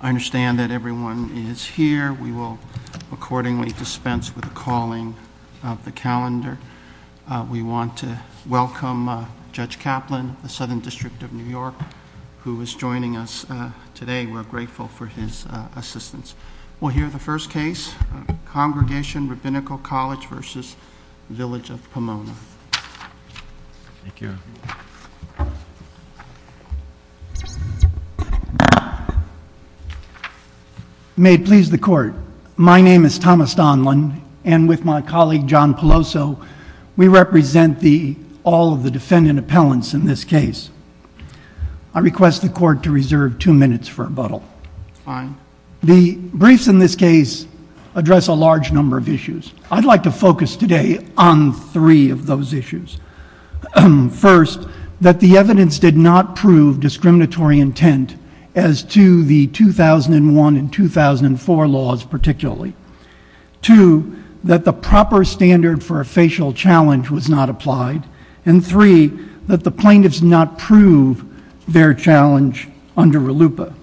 I understand that everyone is here. We will accordingly dispense with the calling of the calendar. We want to welcome Judge Kaplan, the Southern District of New York, who is joining us today. We're grateful for his assistance. We'll hear the first case, Congregation Rabbinical College v. Village of Pomona. May it please the Court, my name is Thomas Donlon, and with my colleague John Peloso, we represent all of the defendant appellants in this case. I request the Court to reserve two minutes for rebuttal. The briefs in this case address a large number of issues. I'd like to focus today on three of those issues. First, that the evidence did not prove discriminatory intent as to the 2001 and 2004 laws particularly. Two, that the proper standard for a facial challenge was not applied. And three, that the plaintiffs did not prove their challenge under RLUIPA.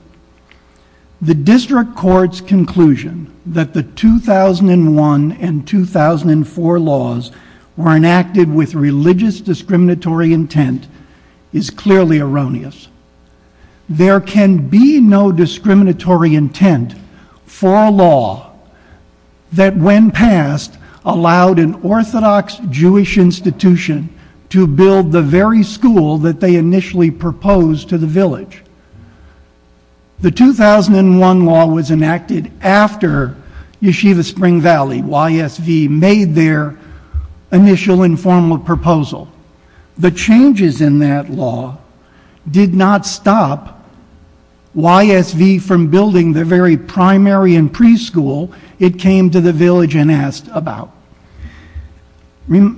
The District Court's conclusion that the 2001 and 2004 laws were enacted with religious discriminatory intent is clearly erroneous. There can be no discriminatory intent for a law that, when passed, allowed an Orthodox Jewish institution to build the very school that they initially proposed to the village. The 2001 law was enacted after Yeshiva Spring Valley, YSV, made their initial informal proposal. The changes in that law did not stop YSV from building the very primary and preschool it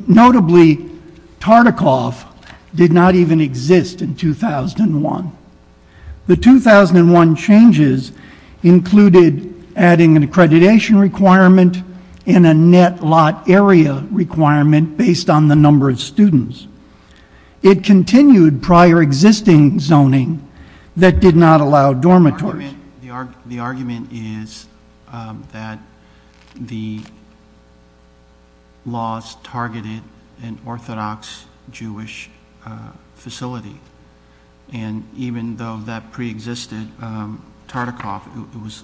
Notably, Tartikoff did not even exist in 2001. The 2001 changes included adding an accreditation requirement and a net lot area requirement based on the number of students. It continued prior existing zoning that did not allow dormitories. The argument is that the laws targeted an Orthodox Jewish facility. And even though that pre-existed, Tartikoff was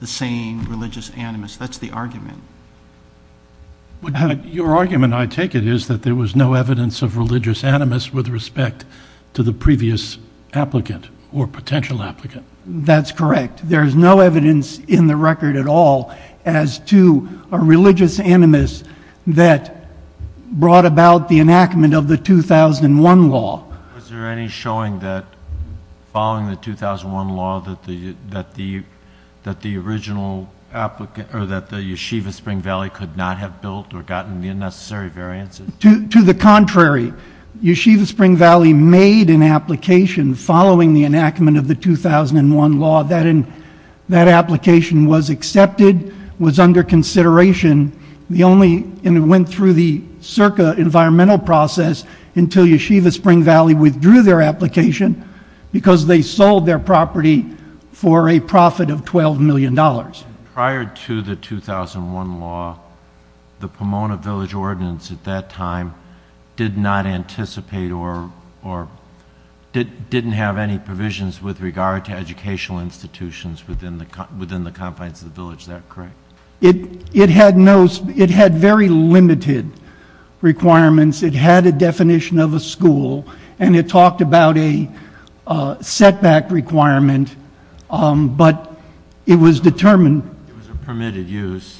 the same religious animus. That's the argument. Your argument, I take it, is that there was no evidence of religious animus with respect to the previous applicant or potential applicant. That's correct. There's no evidence in the record at all as to a religious animus that brought about the enactment of the 2001 law. Is there any showing that following the 2001 law that the original applicant, or that the Yeshiva Spring Valley could not have built or gotten the unnecessary variances? To the contrary. Yeshiva Spring Valley made an application following the enactment of the 2001 law. That application was accepted, was under consideration, and it went through the circa environmental process until Yeshiva Spring Valley withdrew their application because they sold their property for a profit of $12 million. Prior to the 2001 law, the Pomona Village Ordinance at that time did not anticipate or didn't have any provisions with regard to educational institutions within the confines of the village. Is that correct? It had very limited requirements. It had a definition of a school, and it talked about a setback requirement. But it was determined- It was a permitted use.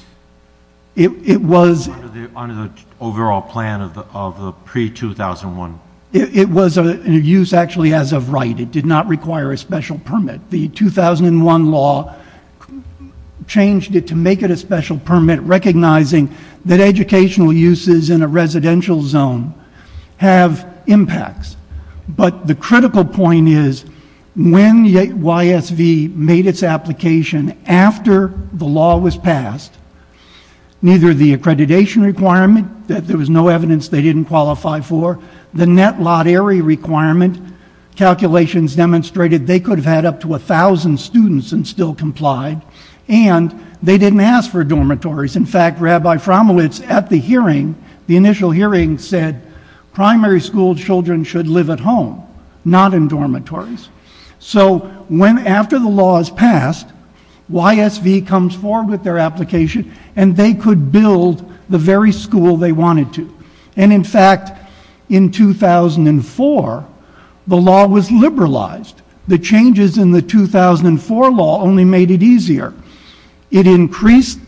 It was- Under the overall plan of the pre-2001. It was a use actually as of right. It did not require a special permit. The 2001 law changed it to make it a special permit, recognizing that educational uses in a residential zone have impacts. But the critical point is when YSV made its application after the law was passed, neither the accreditation requirement, that there was no evidence they didn't qualify for, the net lottery requirement calculations demonstrated they could have had up to 1,000 students and still complied. And they didn't ask for dormitories. In fact, Rabbi Frommelitz at the hearing, the initial hearing, said primary school children should live at home, not in dormitories. So when after the law is passed, YSV comes forward with their application, and they could build the very school they wanted to. And in fact, in 2004, the law was liberalized. The changes in the 2004 law only made it easier. It increased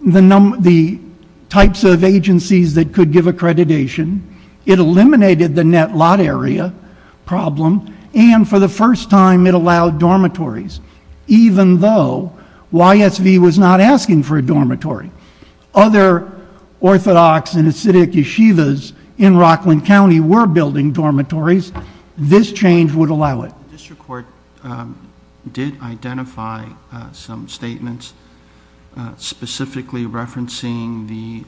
the types of agencies that could give accreditation. It eliminated the net lot area problem. And for the first time, it allowed dormitories, even though YSV was not asking for a dormitory. Other orthodox and acidic yeshivas in Rockland County were building dormitories. This change would allow it. The district court did identify some statements, specifically referencing the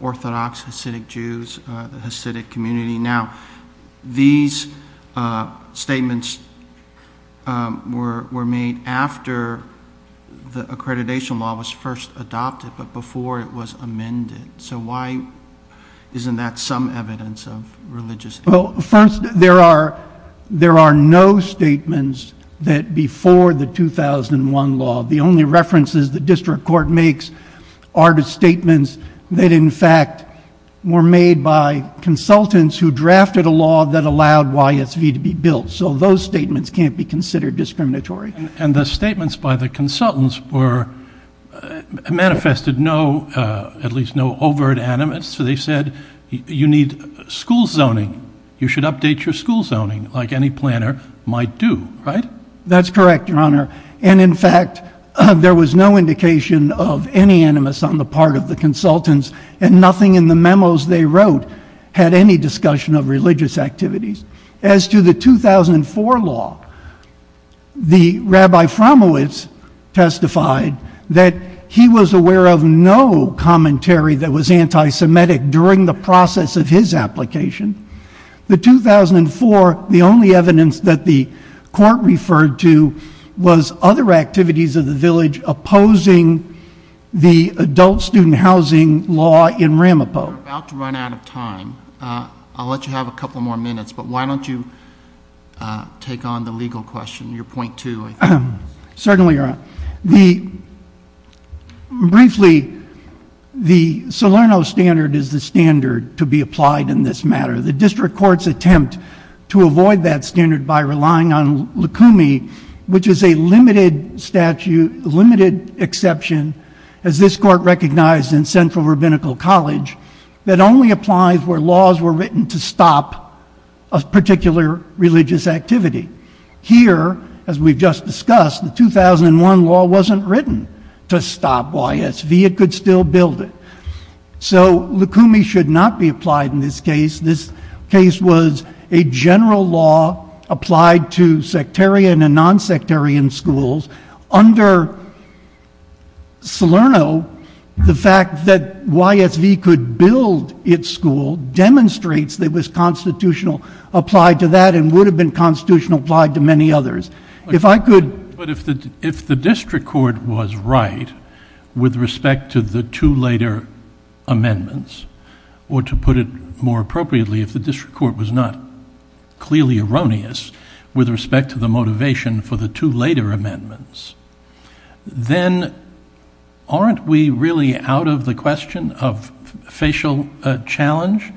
orthodox Hasidic Jews, the Hasidic community. Now, these statements were made after the accreditation law was first adopted, but before it was amended. So why isn't that some evidence of religious- Well, first, there are no statements that before the 2001 law. The only references the district court makes are the statements that, in fact, were made by consultants who drafted a law that allowed YSV to be built. So those statements can't be considered discriminatory. And the statements by the consultants manifested at least no overt animus. So they said, you need school zoning. You should update your school zoning like any planner might do, right? That's correct, your honor. And in fact, there was no indication of any animus on the part of the consultants. And nothing in the memos they wrote had any discussion of religious activities. As to the 2004 law, the Rabbi Fromowitz testified that he was aware of no commentary that was anti-Semitic during the process of his application. The 2004, the only evidence that the court referred to was other activities of the village opposing the adult student housing law in Ramapo. We're about to run out of time. I'll let you have a couple more minutes, but why don't you take on the legal question, your point two, I think. Certainly, your honor. Briefly, the Salerno standard is the standard to be applied in this matter. The district court's attempt to avoid that standard by relying on lukumi, which is a limited exception, as this court recognized in Central Rabbinical College, that only applies where laws were written to stop a particular religious activity. Here, as we've just discussed, the 2001 law wasn't written to stop YSV, it could still build it. So lukumi should not be applied in this case. This case was a general law applied to sectarian and non-sectarian schools. Under Salerno, the fact that YSV could build its school demonstrates that it was constitutional applied to that and would have been constitutional applied to many others. If I could- But if the district court was right with respect to the two later amendments, or to put it more appropriately, if the district court was not clearly erroneous with respect to the motivation for the two later amendments, then aren't we really out of the question of facial challenge?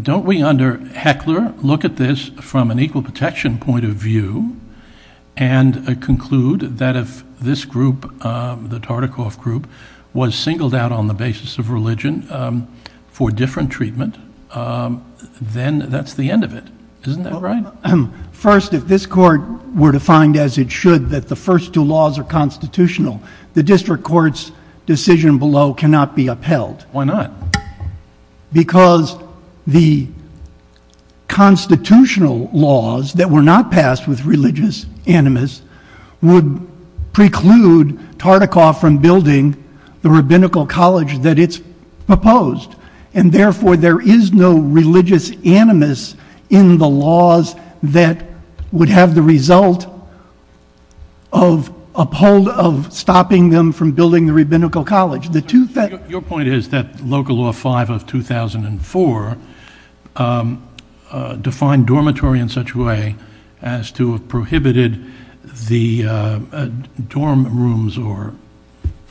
Don't we under Heckler look at this from an equal protection point of view and conclude that if this group, the Tartikoff group, was singled out on the basis of religion for different treatment, then that's the end of it. Isn't that right? First, if this court were to find as it should that the first two laws are constitutional, the district court's decision below cannot be upheld. Why not? Because the constitutional laws that were not passed with religious animus would preclude Tartikoff from building the rabbinical college that it's proposed. And therefore, there is no religious animus in the laws that would have the result of uphold of stopping them from building the rabbinical college. The two- Your point is that local law five of 2004 defined dormitory in such a way as to have prohibited the dorm rooms or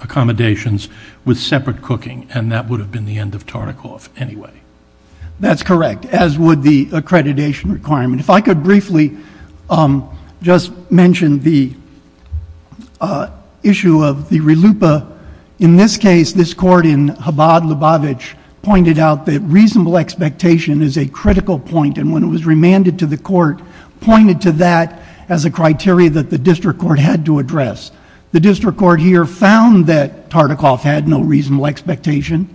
accommodations with separate cooking. And that would have been the end of Tartikoff anyway. That's correct, as would the accreditation requirement. If I could briefly just mention the issue of the relupa. In this case, this court in Chabad-Lubavitch pointed out that reasonable expectation is a critical point. And when it was remanded to the court, pointed to that as a criteria that the district court had to address. The district court here found that Tartikoff had no reasonable expectation,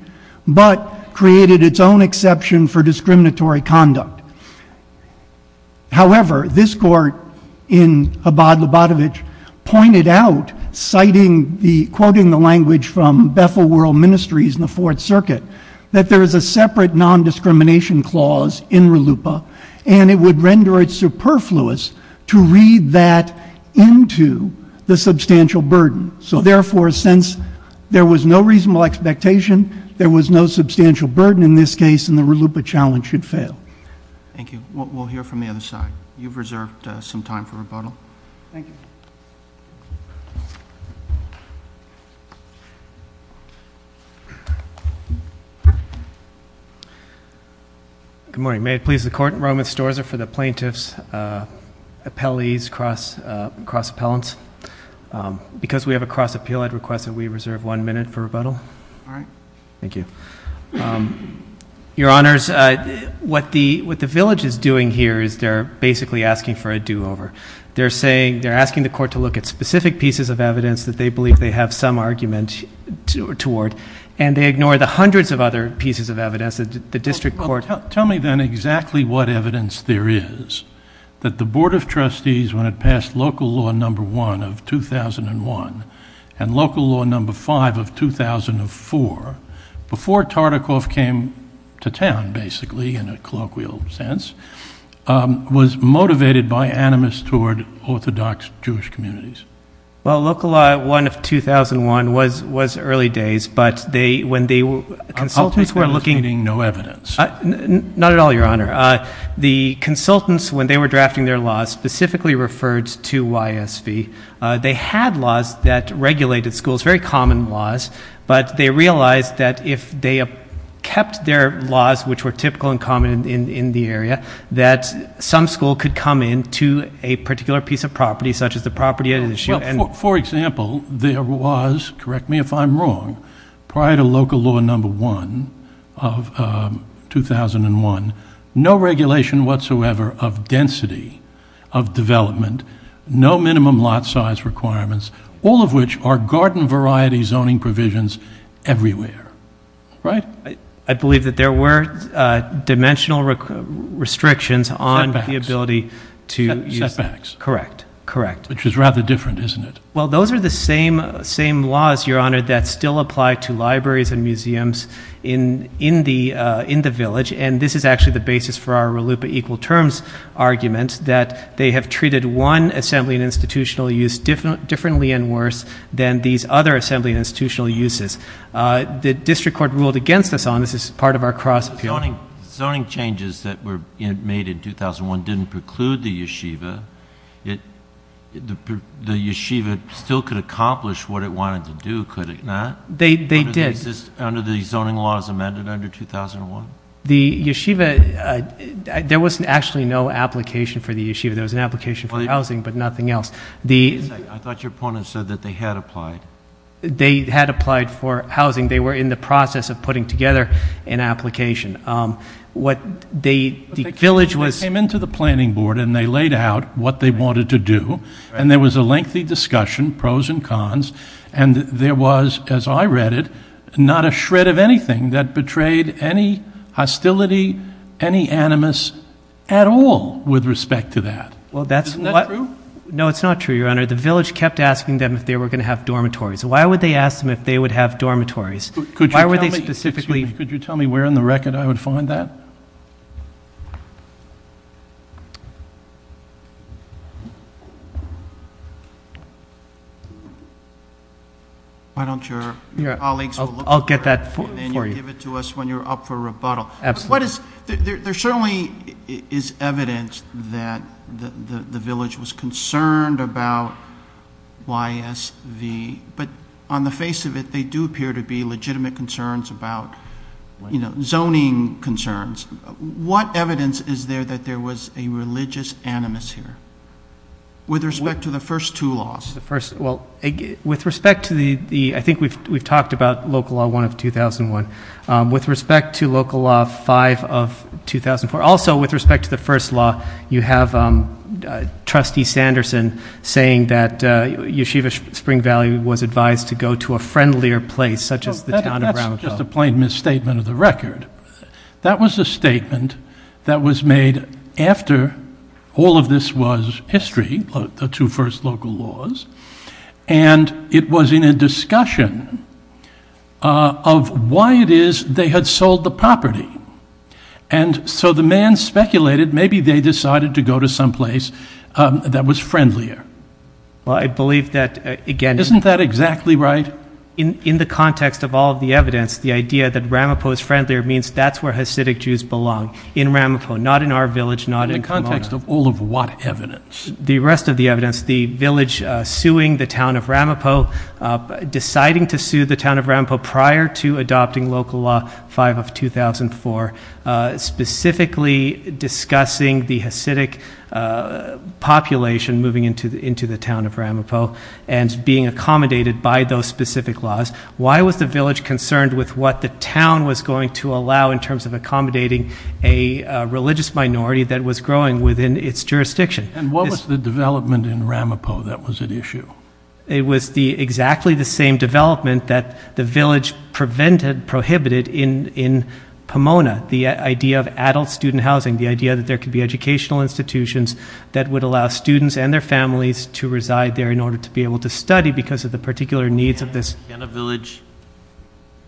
but created its own exception for discriminatory conduct. However, this court in Chabad-Lubavitch pointed out, quoting the language from Bethel World Ministries in the Fourth Circuit, that there is a separate non-discrimination clause in relupa. And it would render it superfluous to read that into the substantial burden. So therefore, since there was no reasonable expectation, there was no substantial burden in this case, and the relupa challenge should fail. Thank you. We'll hear from the other side. You've reserved some time for rebuttal. Thank you. Good morning. May it please the court. Roman Storza for the plaintiffs, appellees, cross-appellants. Because we have a cross-appeal, I'd request that we reserve one minute for rebuttal. All right. Thank you. Your Honors, what the village is doing here is they're basically asking for a do-over. They're asking the court to look at specific pieces of evidence that they believe they have some argument toward. And they ignore the hundreds of other pieces of evidence that the district court- Tell me, then, exactly what evidence there is that the Board of Trustees, when it passed local law number one of 2001 and local law number five of 2004, before Tartikoff came to town, basically, in a colloquial sense, was motivated by animus toward Orthodox Jewish communities. Well, local law one of 2001 was early days. But when the consultants were looking- Not at all, Your Honor. The consultants, when they were drafting their laws, specifically referred to YSV. They had laws that regulated schools, very common laws. But they realized that if they kept their laws, which were typical and common in the area, that some school could come in to a particular piece of property, such as the property at issue and- For example, there was, correct me if I'm wrong, prior to local law number one of 2001, no regulation whatsoever of density, of development, no minimum lot size requirements, all of which are garden variety zoning provisions everywhere, right? I believe that there were dimensional restrictions on the ability to- Setbacks. Correct, correct. Which is rather different, isn't it? Well, those are the same laws, Your Honor, that still apply to libraries and museums in the village. And this is actually the basis for our RLUIPA equal terms argument, that they have treated one assembly and institutional use differently and worse than these other assembly and institutional uses. The district court ruled against this on, this is part of our cross- Zoning changes that were made in 2001 didn't preclude the yeshiva. The yeshiva still could accomplish what it wanted to do, could it not? They did. Under the zoning laws amended under 2001? The yeshiva, there was actually no application for the yeshiva. There was an application for housing, but nothing else. The- I thought your opponent said that they had applied. They had applied for housing. They were in the process of putting together an application. What they, the village was- Planning board, and they laid out what they wanted to do, and there was a lengthy discussion, pros and cons. And there was, as I read it, not a shred of anything that betrayed any hostility, any animus at all with respect to that. Well, that's- Isn't that true? No, it's not true, Your Honor. The village kept asking them if they were going to have dormitories. Why would they ask them if they would have dormitories? Why would they specifically- Could you tell me where in the record I would find that? Why don't your colleagues- I'll get that for you. And then you'll give it to us when you're up for rebuttal. Absolutely. What is, there certainly is evidence that the village was concerned about YSV, but on the face of it, they do appear to be legitimate concerns about zoning concerns. What evidence is there that there was a religious animus here, with respect to the first two laws? The first, well, with respect to the, I think we've talked about Local Law 1 of 2001. With respect to Local Law 5 of 2004, also with respect to the first law, you have Trustee Sanderson saying that Yeshiva Spring Valley was advised to go to a friendlier place, such as the town of Brownfield. That's just a plain misstatement of the record. That was a statement that was made after all of this was history, the two first local laws, and it was in a discussion of why it is they had sold the property. And so the man speculated maybe they decided to go to someplace that was friendlier. Well, I believe that, again- Isn't that exactly right? In the context of all of the evidence, the idea that Ramapo is friendlier means that's where Hasidic Jews belong, in Ramapo, not in our village, not in Pomona. In the context of all of what evidence? The rest of the evidence, the village suing the town of Ramapo, deciding to sue the town of Ramapo prior to adopting Local Law 5 of 2004, specifically discussing the Hasidic population moving into the town of Ramapo, and being accommodated by those specific laws. Why was the village concerned with what the town was going to allow in terms of accommodating a religious minority that was growing within its jurisdiction? And what was the development in Ramapo that was at issue? It was exactly the same development that the village prohibited in Pomona. The idea of adult student housing, the idea that there could be educational institutions that would allow students and their families to reside there in order to be able to study because of the particular needs of this- Can a village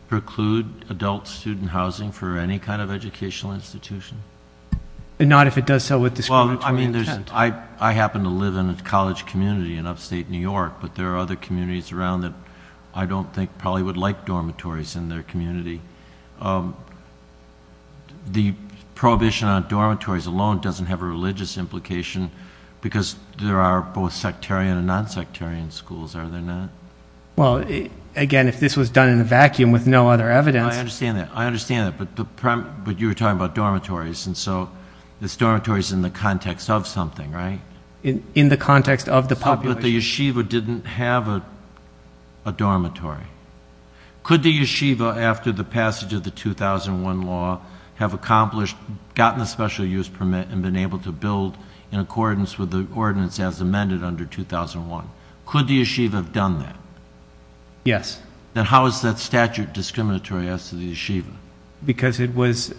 preclude adult student housing for any kind of educational institution? Not if it does so with discriminatory intent. I happen to live in a college community in upstate New York, but there are other communities around that I don't think probably would like dormitories in their community. The prohibition on dormitories alone doesn't have a religious implication because there are both sectarian and non-sectarian schools, are there not? Well, again, if this was done in a vacuum with no other evidence- I understand that, I understand that, but you were talking about dormitories, and so this dormitory is in the context of something, right? In the context of the population. But the yeshiva didn't have a dormitory. Could the yeshiva, after the passage of the 2001 law, have accomplished, gotten a special use permit, and been able to build in accordance with the ordinance as amended under 2001? Could the yeshiva have done that? Yes. Then how is that statute discriminatory as to the yeshiva? Because it was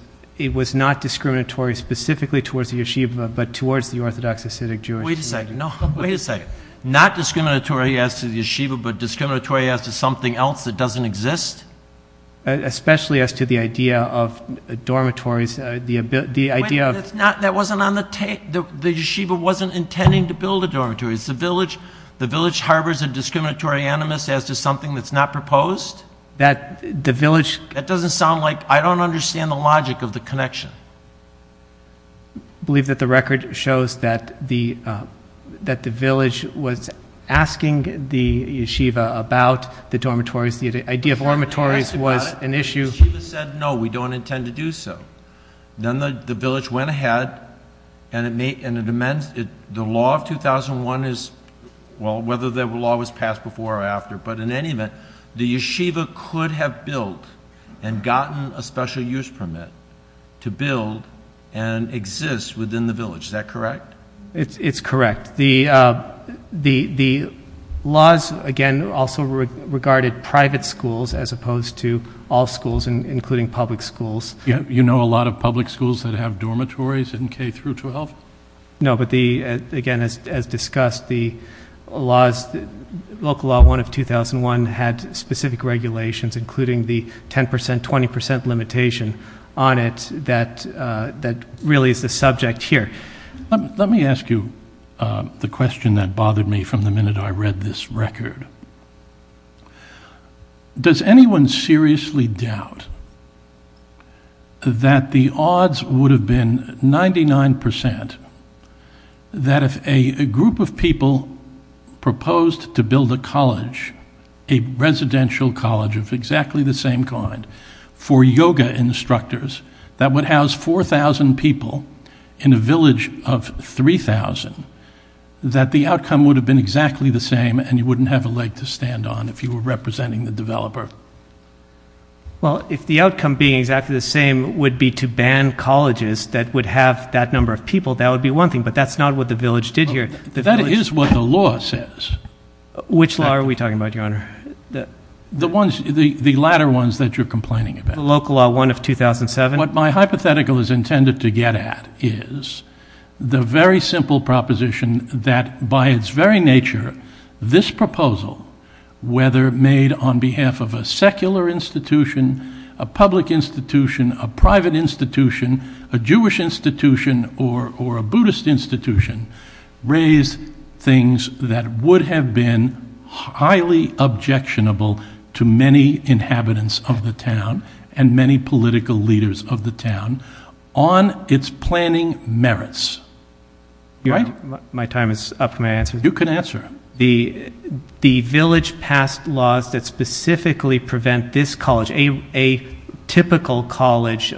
not discriminatory specifically towards the yeshiva, but towards the orthodox Hasidic Jewish community. Wait a second, no, wait a second. Not discriminatory as to the yeshiva, but discriminatory as to something else that doesn't exist? Especially as to the idea of dormitories, the idea of- Wait, that wasn't on the tape, the yeshiva wasn't intending to build a dormitory, the village harbors a discriminatory animus as to something that's not proposed? That the village- That doesn't sound like, I don't understand the logic of the connection. I believe that the record shows that the village was asking the yeshiva about the dormitories, the idea of dormitories was an issue- Yeshiva said, no, we don't intend to do so. Then the village went ahead, and the law of 2001 is, well, whether the law was passed before or after, but in any event, the yeshiva could have built and gotten a special use permit to build and exist within the village. Is that correct? It's correct. The laws, again, also regarded private schools as opposed to all schools, including public schools. You know a lot of public schools that have dormitories in K through 12? No, but again, as discussed, the local law one of 2001 had specific regulations, including the 10%, 20% limitation on it that really is the subject here. Let me ask you the question that bothered me from the minute I read this record. Does anyone seriously doubt that the odds would have been 99% that if a group of people proposed to build a college, a residential college of exactly the same kind for yoga instructors that would house 4,000 people in a village of 3,000, that the outcome would have been exactly the same and you wouldn't have a leg to stand on if you were representing the developer? Well, if the outcome being exactly the same would be to ban colleges that would have that number of people, that would be one thing. But that's not what the village did here. The village- That is what the law says. Which law are we talking about, Your Honor? The ones, the latter ones that you're complaining about. The local law one of 2007? What my hypothetical is intended to get at is the very simple proposition that by its very nature, this proposal, whether made on behalf of a secular institution, a public institution, a private institution, a Jewish institution, or a Buddhist institution, raised things that would have been highly objectionable to many inhabitants of the town and many political leaders of the town on its planning merits. My time is up, may I answer? You can answer. The village passed laws that specifically prevent this college, a typical college,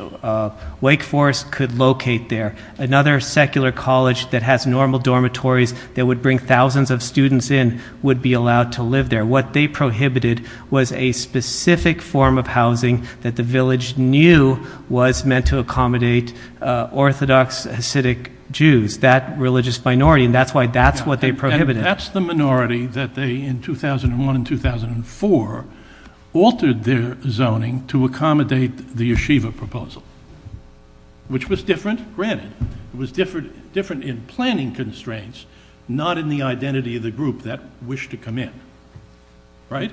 Wake Forest, could locate there. Another secular college that has normal dormitories that would bring thousands of students in would be allowed to live there. What they prohibited was a specific form of housing that the village knew was meant to accommodate Orthodox Hasidic Jews, that religious minority. And that's why that's what they prohibited. And that's the minority that they, in 2001 and 2004, altered their zoning to accommodate the Yeshiva proposal, which was different. Granted, it was different in planning constraints, not in the identity of the group that wished to come in. Right?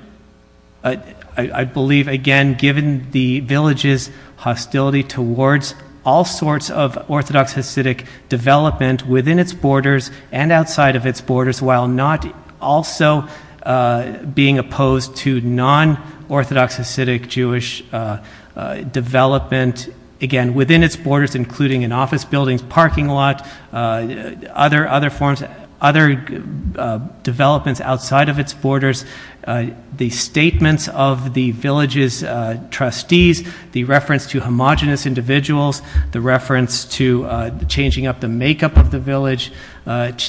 I believe, again, given the village's hostility towards all sorts of Orthodox Hasidic development within its borders and outside of its borders, while not also being opposed to non-Orthodox Hasidic Jewish development, again, within its borders, including in office buildings, parking lot, other forms, other developments outside of its borders, the statements of the village's trustees, the reference to homogenous individuals, the reference to changing up the makeup of the village,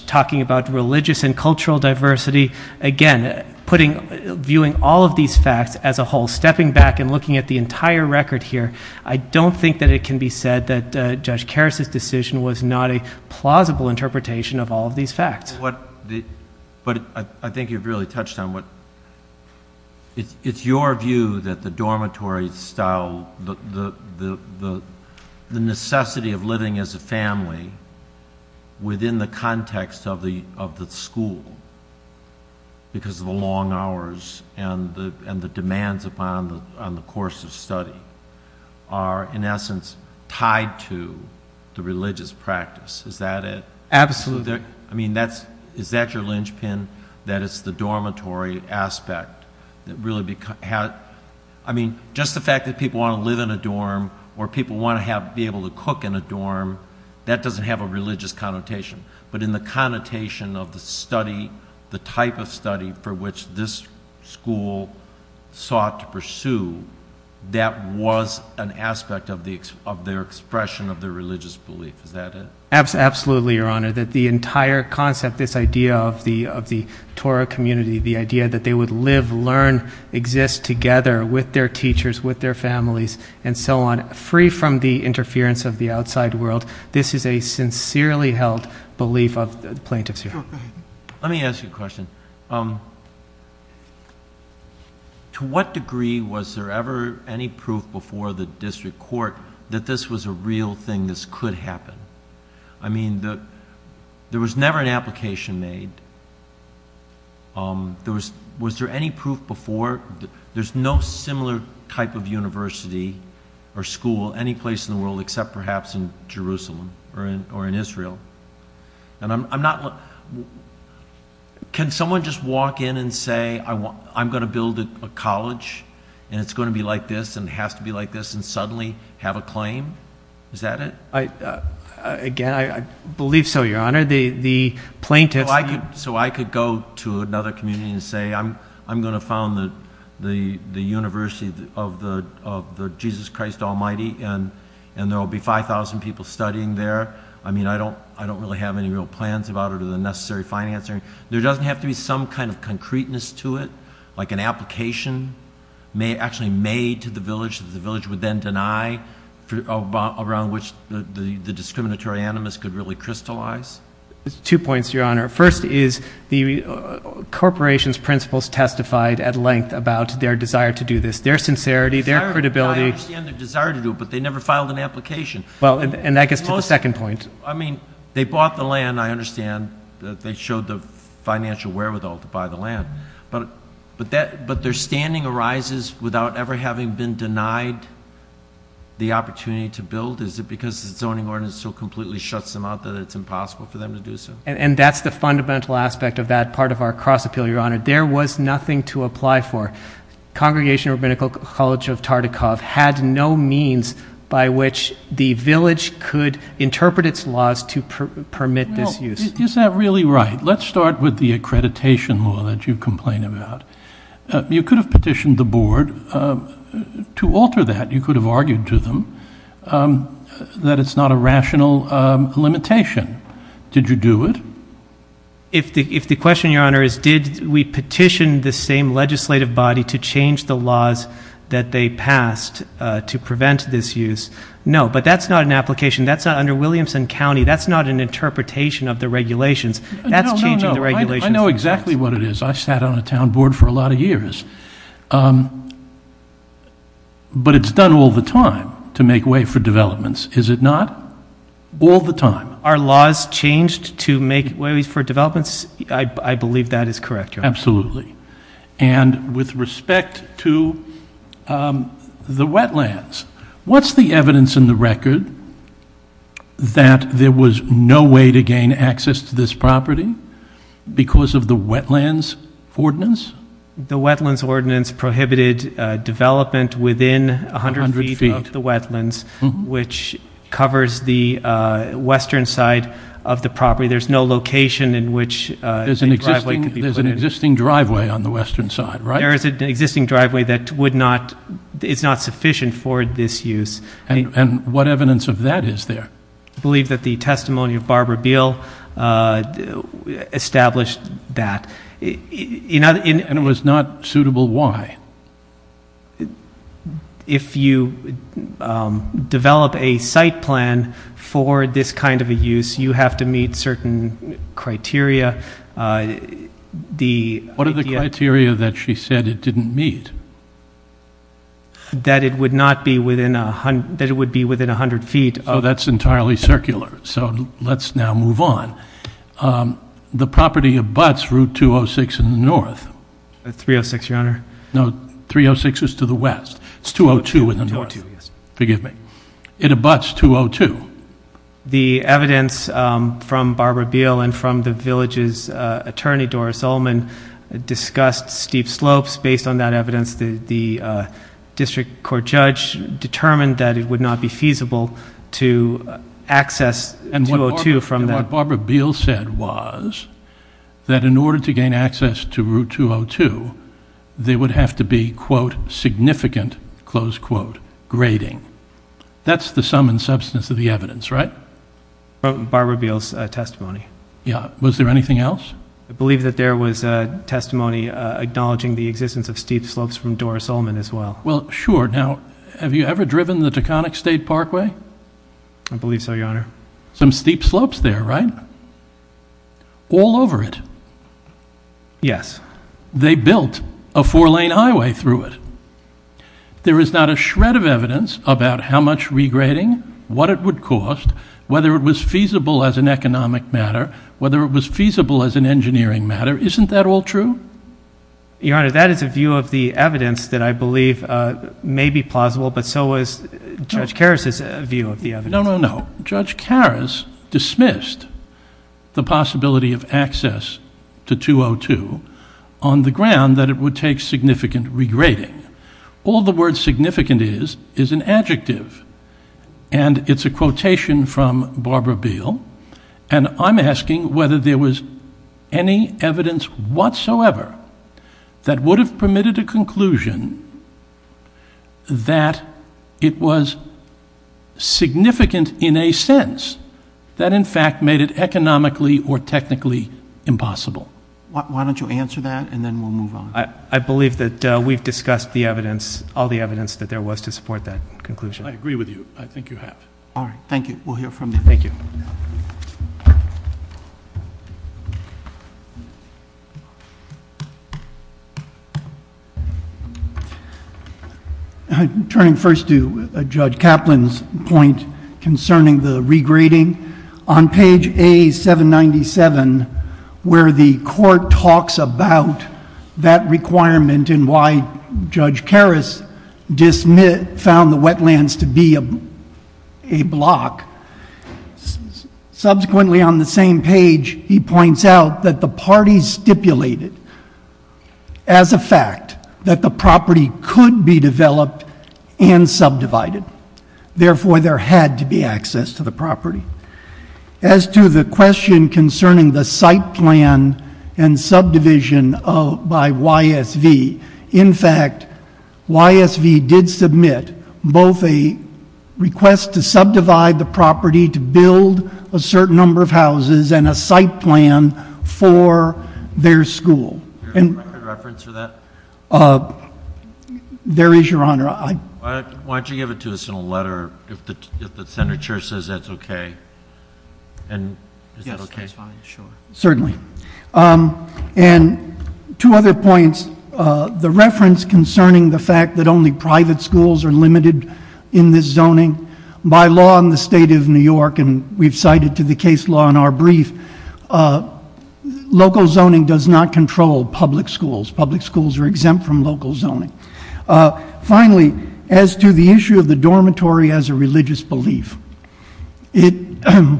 talking about religious and cultural diversity, again, viewing all of these facts as a whole. Stepping back and looking at the entire record here, I don't think that it can be said that there's a very plausible interpretation of all of these facts. But I think you've really touched on what, it's your view that the dormitory style, the necessity of living as a family within the context of the school, because of the long hours and the demands upon the course of study, are, in essence, tied to the religious practice. Is that it? Absolutely. I mean, is that your linchpin, that it's the dormitory aspect that really becomes, I mean, just the fact that people want to live in a dorm, or people want to be able to cook in a dorm, that doesn't have a religious connotation. But in the connotation of the study, the type of study for which this school sought to pursue, that was an aspect of their expression of their religious belief. Is that it? Absolutely, Your Honor. That the entire concept, this idea of the Torah community, the idea that they would live, learn, exist together with their teachers, with their families, and so on, free from the interference of the outside world, this is a sincerely held belief of the plaintiffs here. Let me ask you a question. To what degree was there ever any proof before the district court that this was a real thing, this could happen? I mean, there was never an application made. Was there any proof before? There's no similar type of university or school any place in the world, except perhaps in Jerusalem or in Israel. Can someone just walk in and say, I'm going to build a college, and it's going to be like this, and it has to be like this, and suddenly have a claim? Is that it? Again, I believe so, Your Honor. The plaintiffs— So I could go to another community and say, I'm going to found the University of the Jesus Christ Almighty, and there will be 5,000 people studying there. I mean, I don't really have any real plans about it or the necessary financing. There doesn't have to be some kind of concreteness to it, like an application actually made to the village that the village would then deny, around which the discriminatory animus could really crystallize. Two points, Your Honor. First is the corporation's principles testified at length about their desire to do this, their sincerity, their credibility. I understand their desire to do it, but they never filed an application. Well, and that gets to the second point. I mean, they bought the land, I understand. They showed the financial wherewithal to buy the land, but their standing arises without ever having been denied the opportunity to build. Is it because the zoning ordinance so completely shuts them out that it's impossible for them to do so? And that's the fundamental aspect of that part of our cross-appeal, Your Honor. There was nothing to apply for. Congregational Rabbinical College of Tartikoff had no means by which the village could interpret its laws to permit this use. Is that really right? Let's start with the accreditation law that you complain about. You could have petitioned the board to alter that. You could have argued to them that it's not a rational limitation. Did you do it? If the question, Your Honor, is did we petition the same legislative body to change the laws that they passed to prevent this use? No, but that's not an application. That's not under Williamson County. That's not an interpretation of the regulations. That's changing the regulations. I know exactly what it is. I sat on a town board for a lot of years. But it's done all the time to make way for developments, is it not? All the time. Are laws changed to make ways for developments? I believe that is correct, Your Honor. Absolutely. And with respect to the wetlands, what's the evidence in the record that there was no way to gain access to this property because of the wetlands ordinance? The wetlands ordinance prohibited development within 100 feet of the wetlands, which covers the western side of the property. There's no location in which a driveway could be put in. There's an existing driveway on the western side, right? There is an existing driveway that is not sufficient for this use. And what evidence of that is there? I believe that the testimony of Barbara Beal established that. And it was not suitable why? If you develop a site plan for this kind of a use, you have to meet certain criteria. What are the criteria that she said it didn't meet? That it would be within 100 feet. So that's entirely circular. So let's now move on. The property abuts Route 206 in the north. 306, Your Honor. No, 306 is to the west. It's 202 in the north. Forgive me. It abuts 202. The evidence from Barbara Beal and from the village's attorney, Doris Ullman, discussed steep slopes. Based on that evidence, the district court judge determined that it would not be feasible to access 202 from that. And what Barbara Beal said was that in order to get to Route 202, there would have to be, quote, significant, close quote, grading. That's the sum and substance of the evidence, right? Barbara Beal's testimony. Yeah. Was there anything else? I believe that there was a testimony acknowledging the existence of steep slopes from Doris Ullman as well. Well, sure. Now, have you ever driven the Taconic State Parkway? I believe so, Your Honor. Some steep slopes there, right? All over it. Yes. They built a four-lane highway through it. There is not a shred of evidence about how much regrading, what it would cost, whether it was feasible as an economic matter, whether it was feasible as an engineering matter. Isn't that all true? Your Honor, that is a view of the evidence that I believe may be plausible, but so is Judge Karras dismissed the possibility of access to 202 on the ground that it would take significant regrading. All the word significant is is an adjective, and it's a quotation from Barbara Beal, and I'm asking whether there was any evidence whatsoever that would have permitted a conclusion that it was significant in a sense that in fact made it economically or technically impossible. Why don't you answer that, and then we'll move on. I believe that we've discussed the evidence, all the evidence that there was to support that conclusion. I agree with you. I think you have. All right. Thank you. We'll hear from you. Thank you. I'm turning first to Judge Kaplan's point concerning the regrading. On page A-797, where the court talks about that requirement and why Judge Karras found the wetlands to be a block, subsequently on the same page he points out that the parties stipulated as a fact that the property could be developed and subdivided. Therefore, there had to be access to the property. As to the question concerning the site plan and subdivision by YSV, in fact, YSV did submit both a request to subdivide the property to build a certain number of houses and a site plan for their school. Is there a record reference for that? There is, Your Honor. Why don't you give it to us in a letter if the senator says that's okay? Yes, that's fine. Sure. Certainly. And two other points. The reference concerning the fact that only private schools are limited in this zoning, by law in the state of New York, and we've cited to the case law in our brief, local zoning does not control public schools. Public schools are exempt from local zoning. Finally, as to the issue of the dormitory as a religious belief, the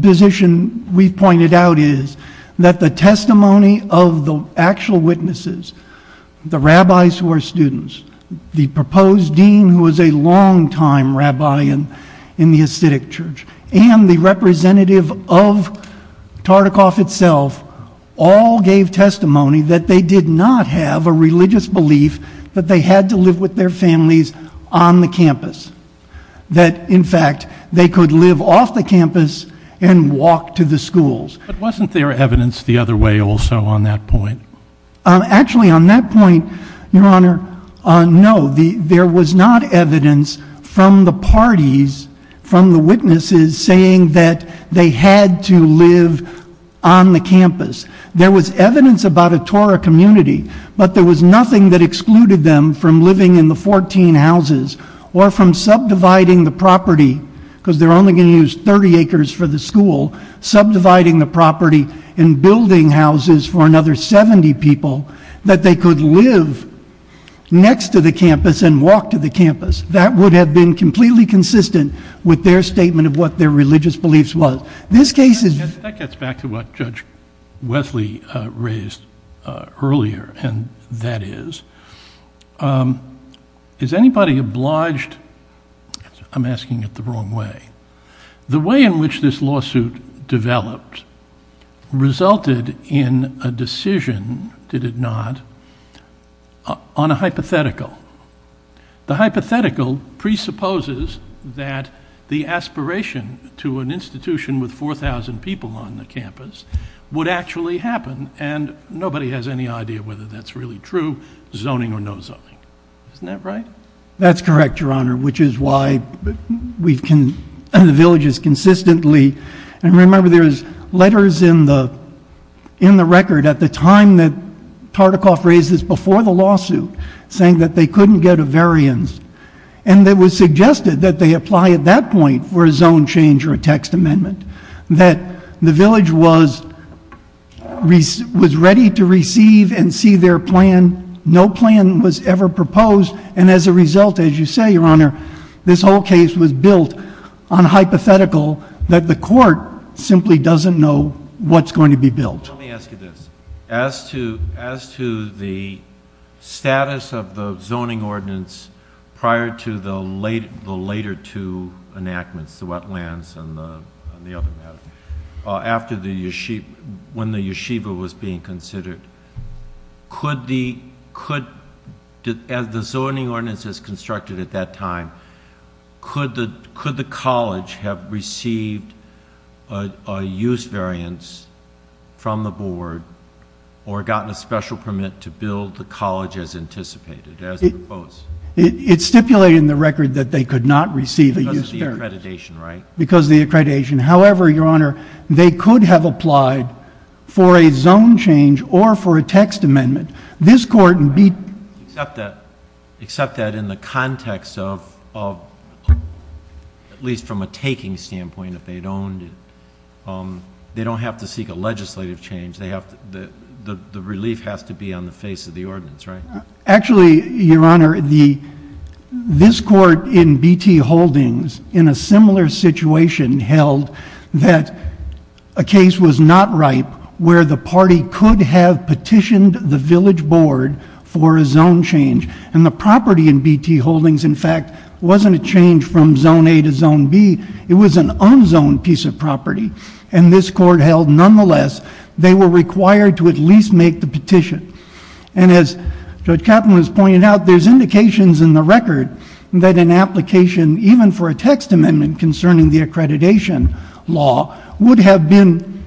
position we've pointed out is that the testimony of the actual witnesses, the rabbis who are students, the proposed dean who is a longtime rabbi in the acidic church, and the representative of Tartikoff itself, all gave testimony that they did not have a religious belief that they had to live with their families on the campus. That, in fact, they could live off the campus and walk to the schools. But wasn't there evidence the other way also on that point? Actually, on that point, Your Honor, no. There was not evidence from the parties, from the witnesses, saying that they had to live on the campus. There was evidence about a Torah community, but there was nothing that excluded them from living in the 14 houses or from subdividing the property, because they're only going to use 30 acres for the school, subdividing the property and building houses for another 70 people, that they could live next to the campus and walk to the campus. That would have been completely consistent with their statement of what their religious beliefs was. This case is... That gets back to what Judge Wesley raised earlier, and that is, is anybody obliged? I'm asking it the wrong way. The way in which this lawsuit developed resulted in a decision, did it not, on a hypothetical. The hypothetical presupposes that the aspiration to an institution with 4,000 people on the campus would actually happen, and nobody has any idea whether that's really true, zoning or no zoning. Isn't that right? That's correct, Your Honor, which is why the village has consistently... And remember, there's letters in the record at the time that Tartikoff raised this, before the lawsuit, saying that they couldn't get a variance. And it was suggested that they apply at that point for a zone change or a text amendment, that the village was ready to receive and see their plan. No plan was ever proposed, and as a result, as you say, Your Honor, this whole case was built on a hypothetical that the court simply doesn't know what's going to be built. Let me ask you this. As to the status of the zoning ordinance prior to the later two enactments, the wetlands and the other matter, when the yeshiva was being considered, as the zoning ordinance is constructed at that time, could the college have received a use variance from the board or gotten a special permit to build the college as anticipated? It's stipulated in the record that they could not receive a use variance. Because of the accreditation, right? Because of the accreditation. However, Your Honor, they could have applied for a zone change or for a text amendment. This court... Except that in the context of, at least from a taking standpoint, if they'd owned it, they don't have to seek a legislative change. The relief has to be on the face of the ordinance, right? Actually, Your Honor, this court in B.T. Holdings, in a similar situation, held that a case was not ripe where the party could have petitioned the village board for a zone change. And the property in B.T. Holdings, in fact, wasn't a change from zone A to zone B. It was an unzoned piece of property. And this court held, nonetheless, they were required to at And as Judge Kaplan has pointed out, there's indications in the record that an application, even for a text amendment concerning the accreditation law, would have been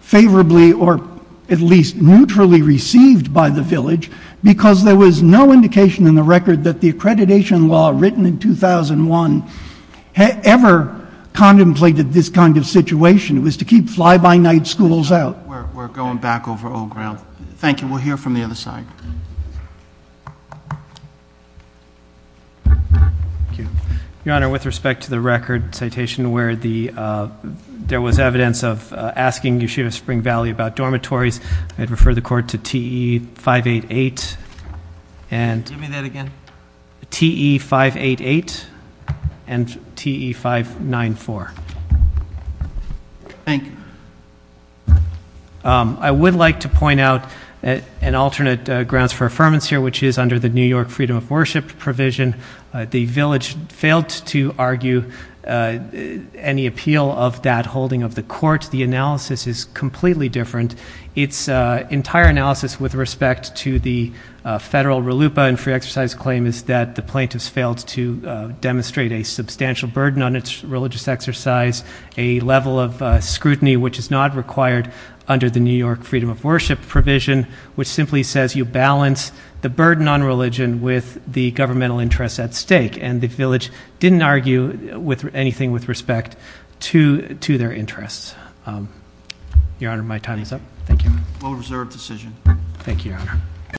favorably, or at least neutrally, received by the village because there was no indication in the record that the accreditation law written in 2001 ever contemplated this kind of situation. It was to keep fly-by-night schools out. We're going back over old ground. Thank you. We'll hear from the other side. Thank you. Your Honor, with respect to the record citation where there was evidence of asking Yeshiva Spring Valley about dormitories, I'd refer the court to TE588 and- Give me that again. TE588 and TE594. Thank you. I would like to point out an alternate grounds for affirmance here, which is under the New York Freedom of Worship provision. The village failed to argue any appeal of that holding of the court. The analysis is completely different. Its entire analysis with respect to the federal RLUIPA and free exercise claim is that the plaintiffs failed to demonstrate a substantial burden on its religious exercise, a level of scrutiny which is not required under the New York Freedom of Worship provision, which simply says you balance the burden on religion with the governmental interests at stake. The village didn't argue anything with respect to their interests. Your Honor, my time is up. Thank you. Well-reserved decision. Thank you, Your Honor.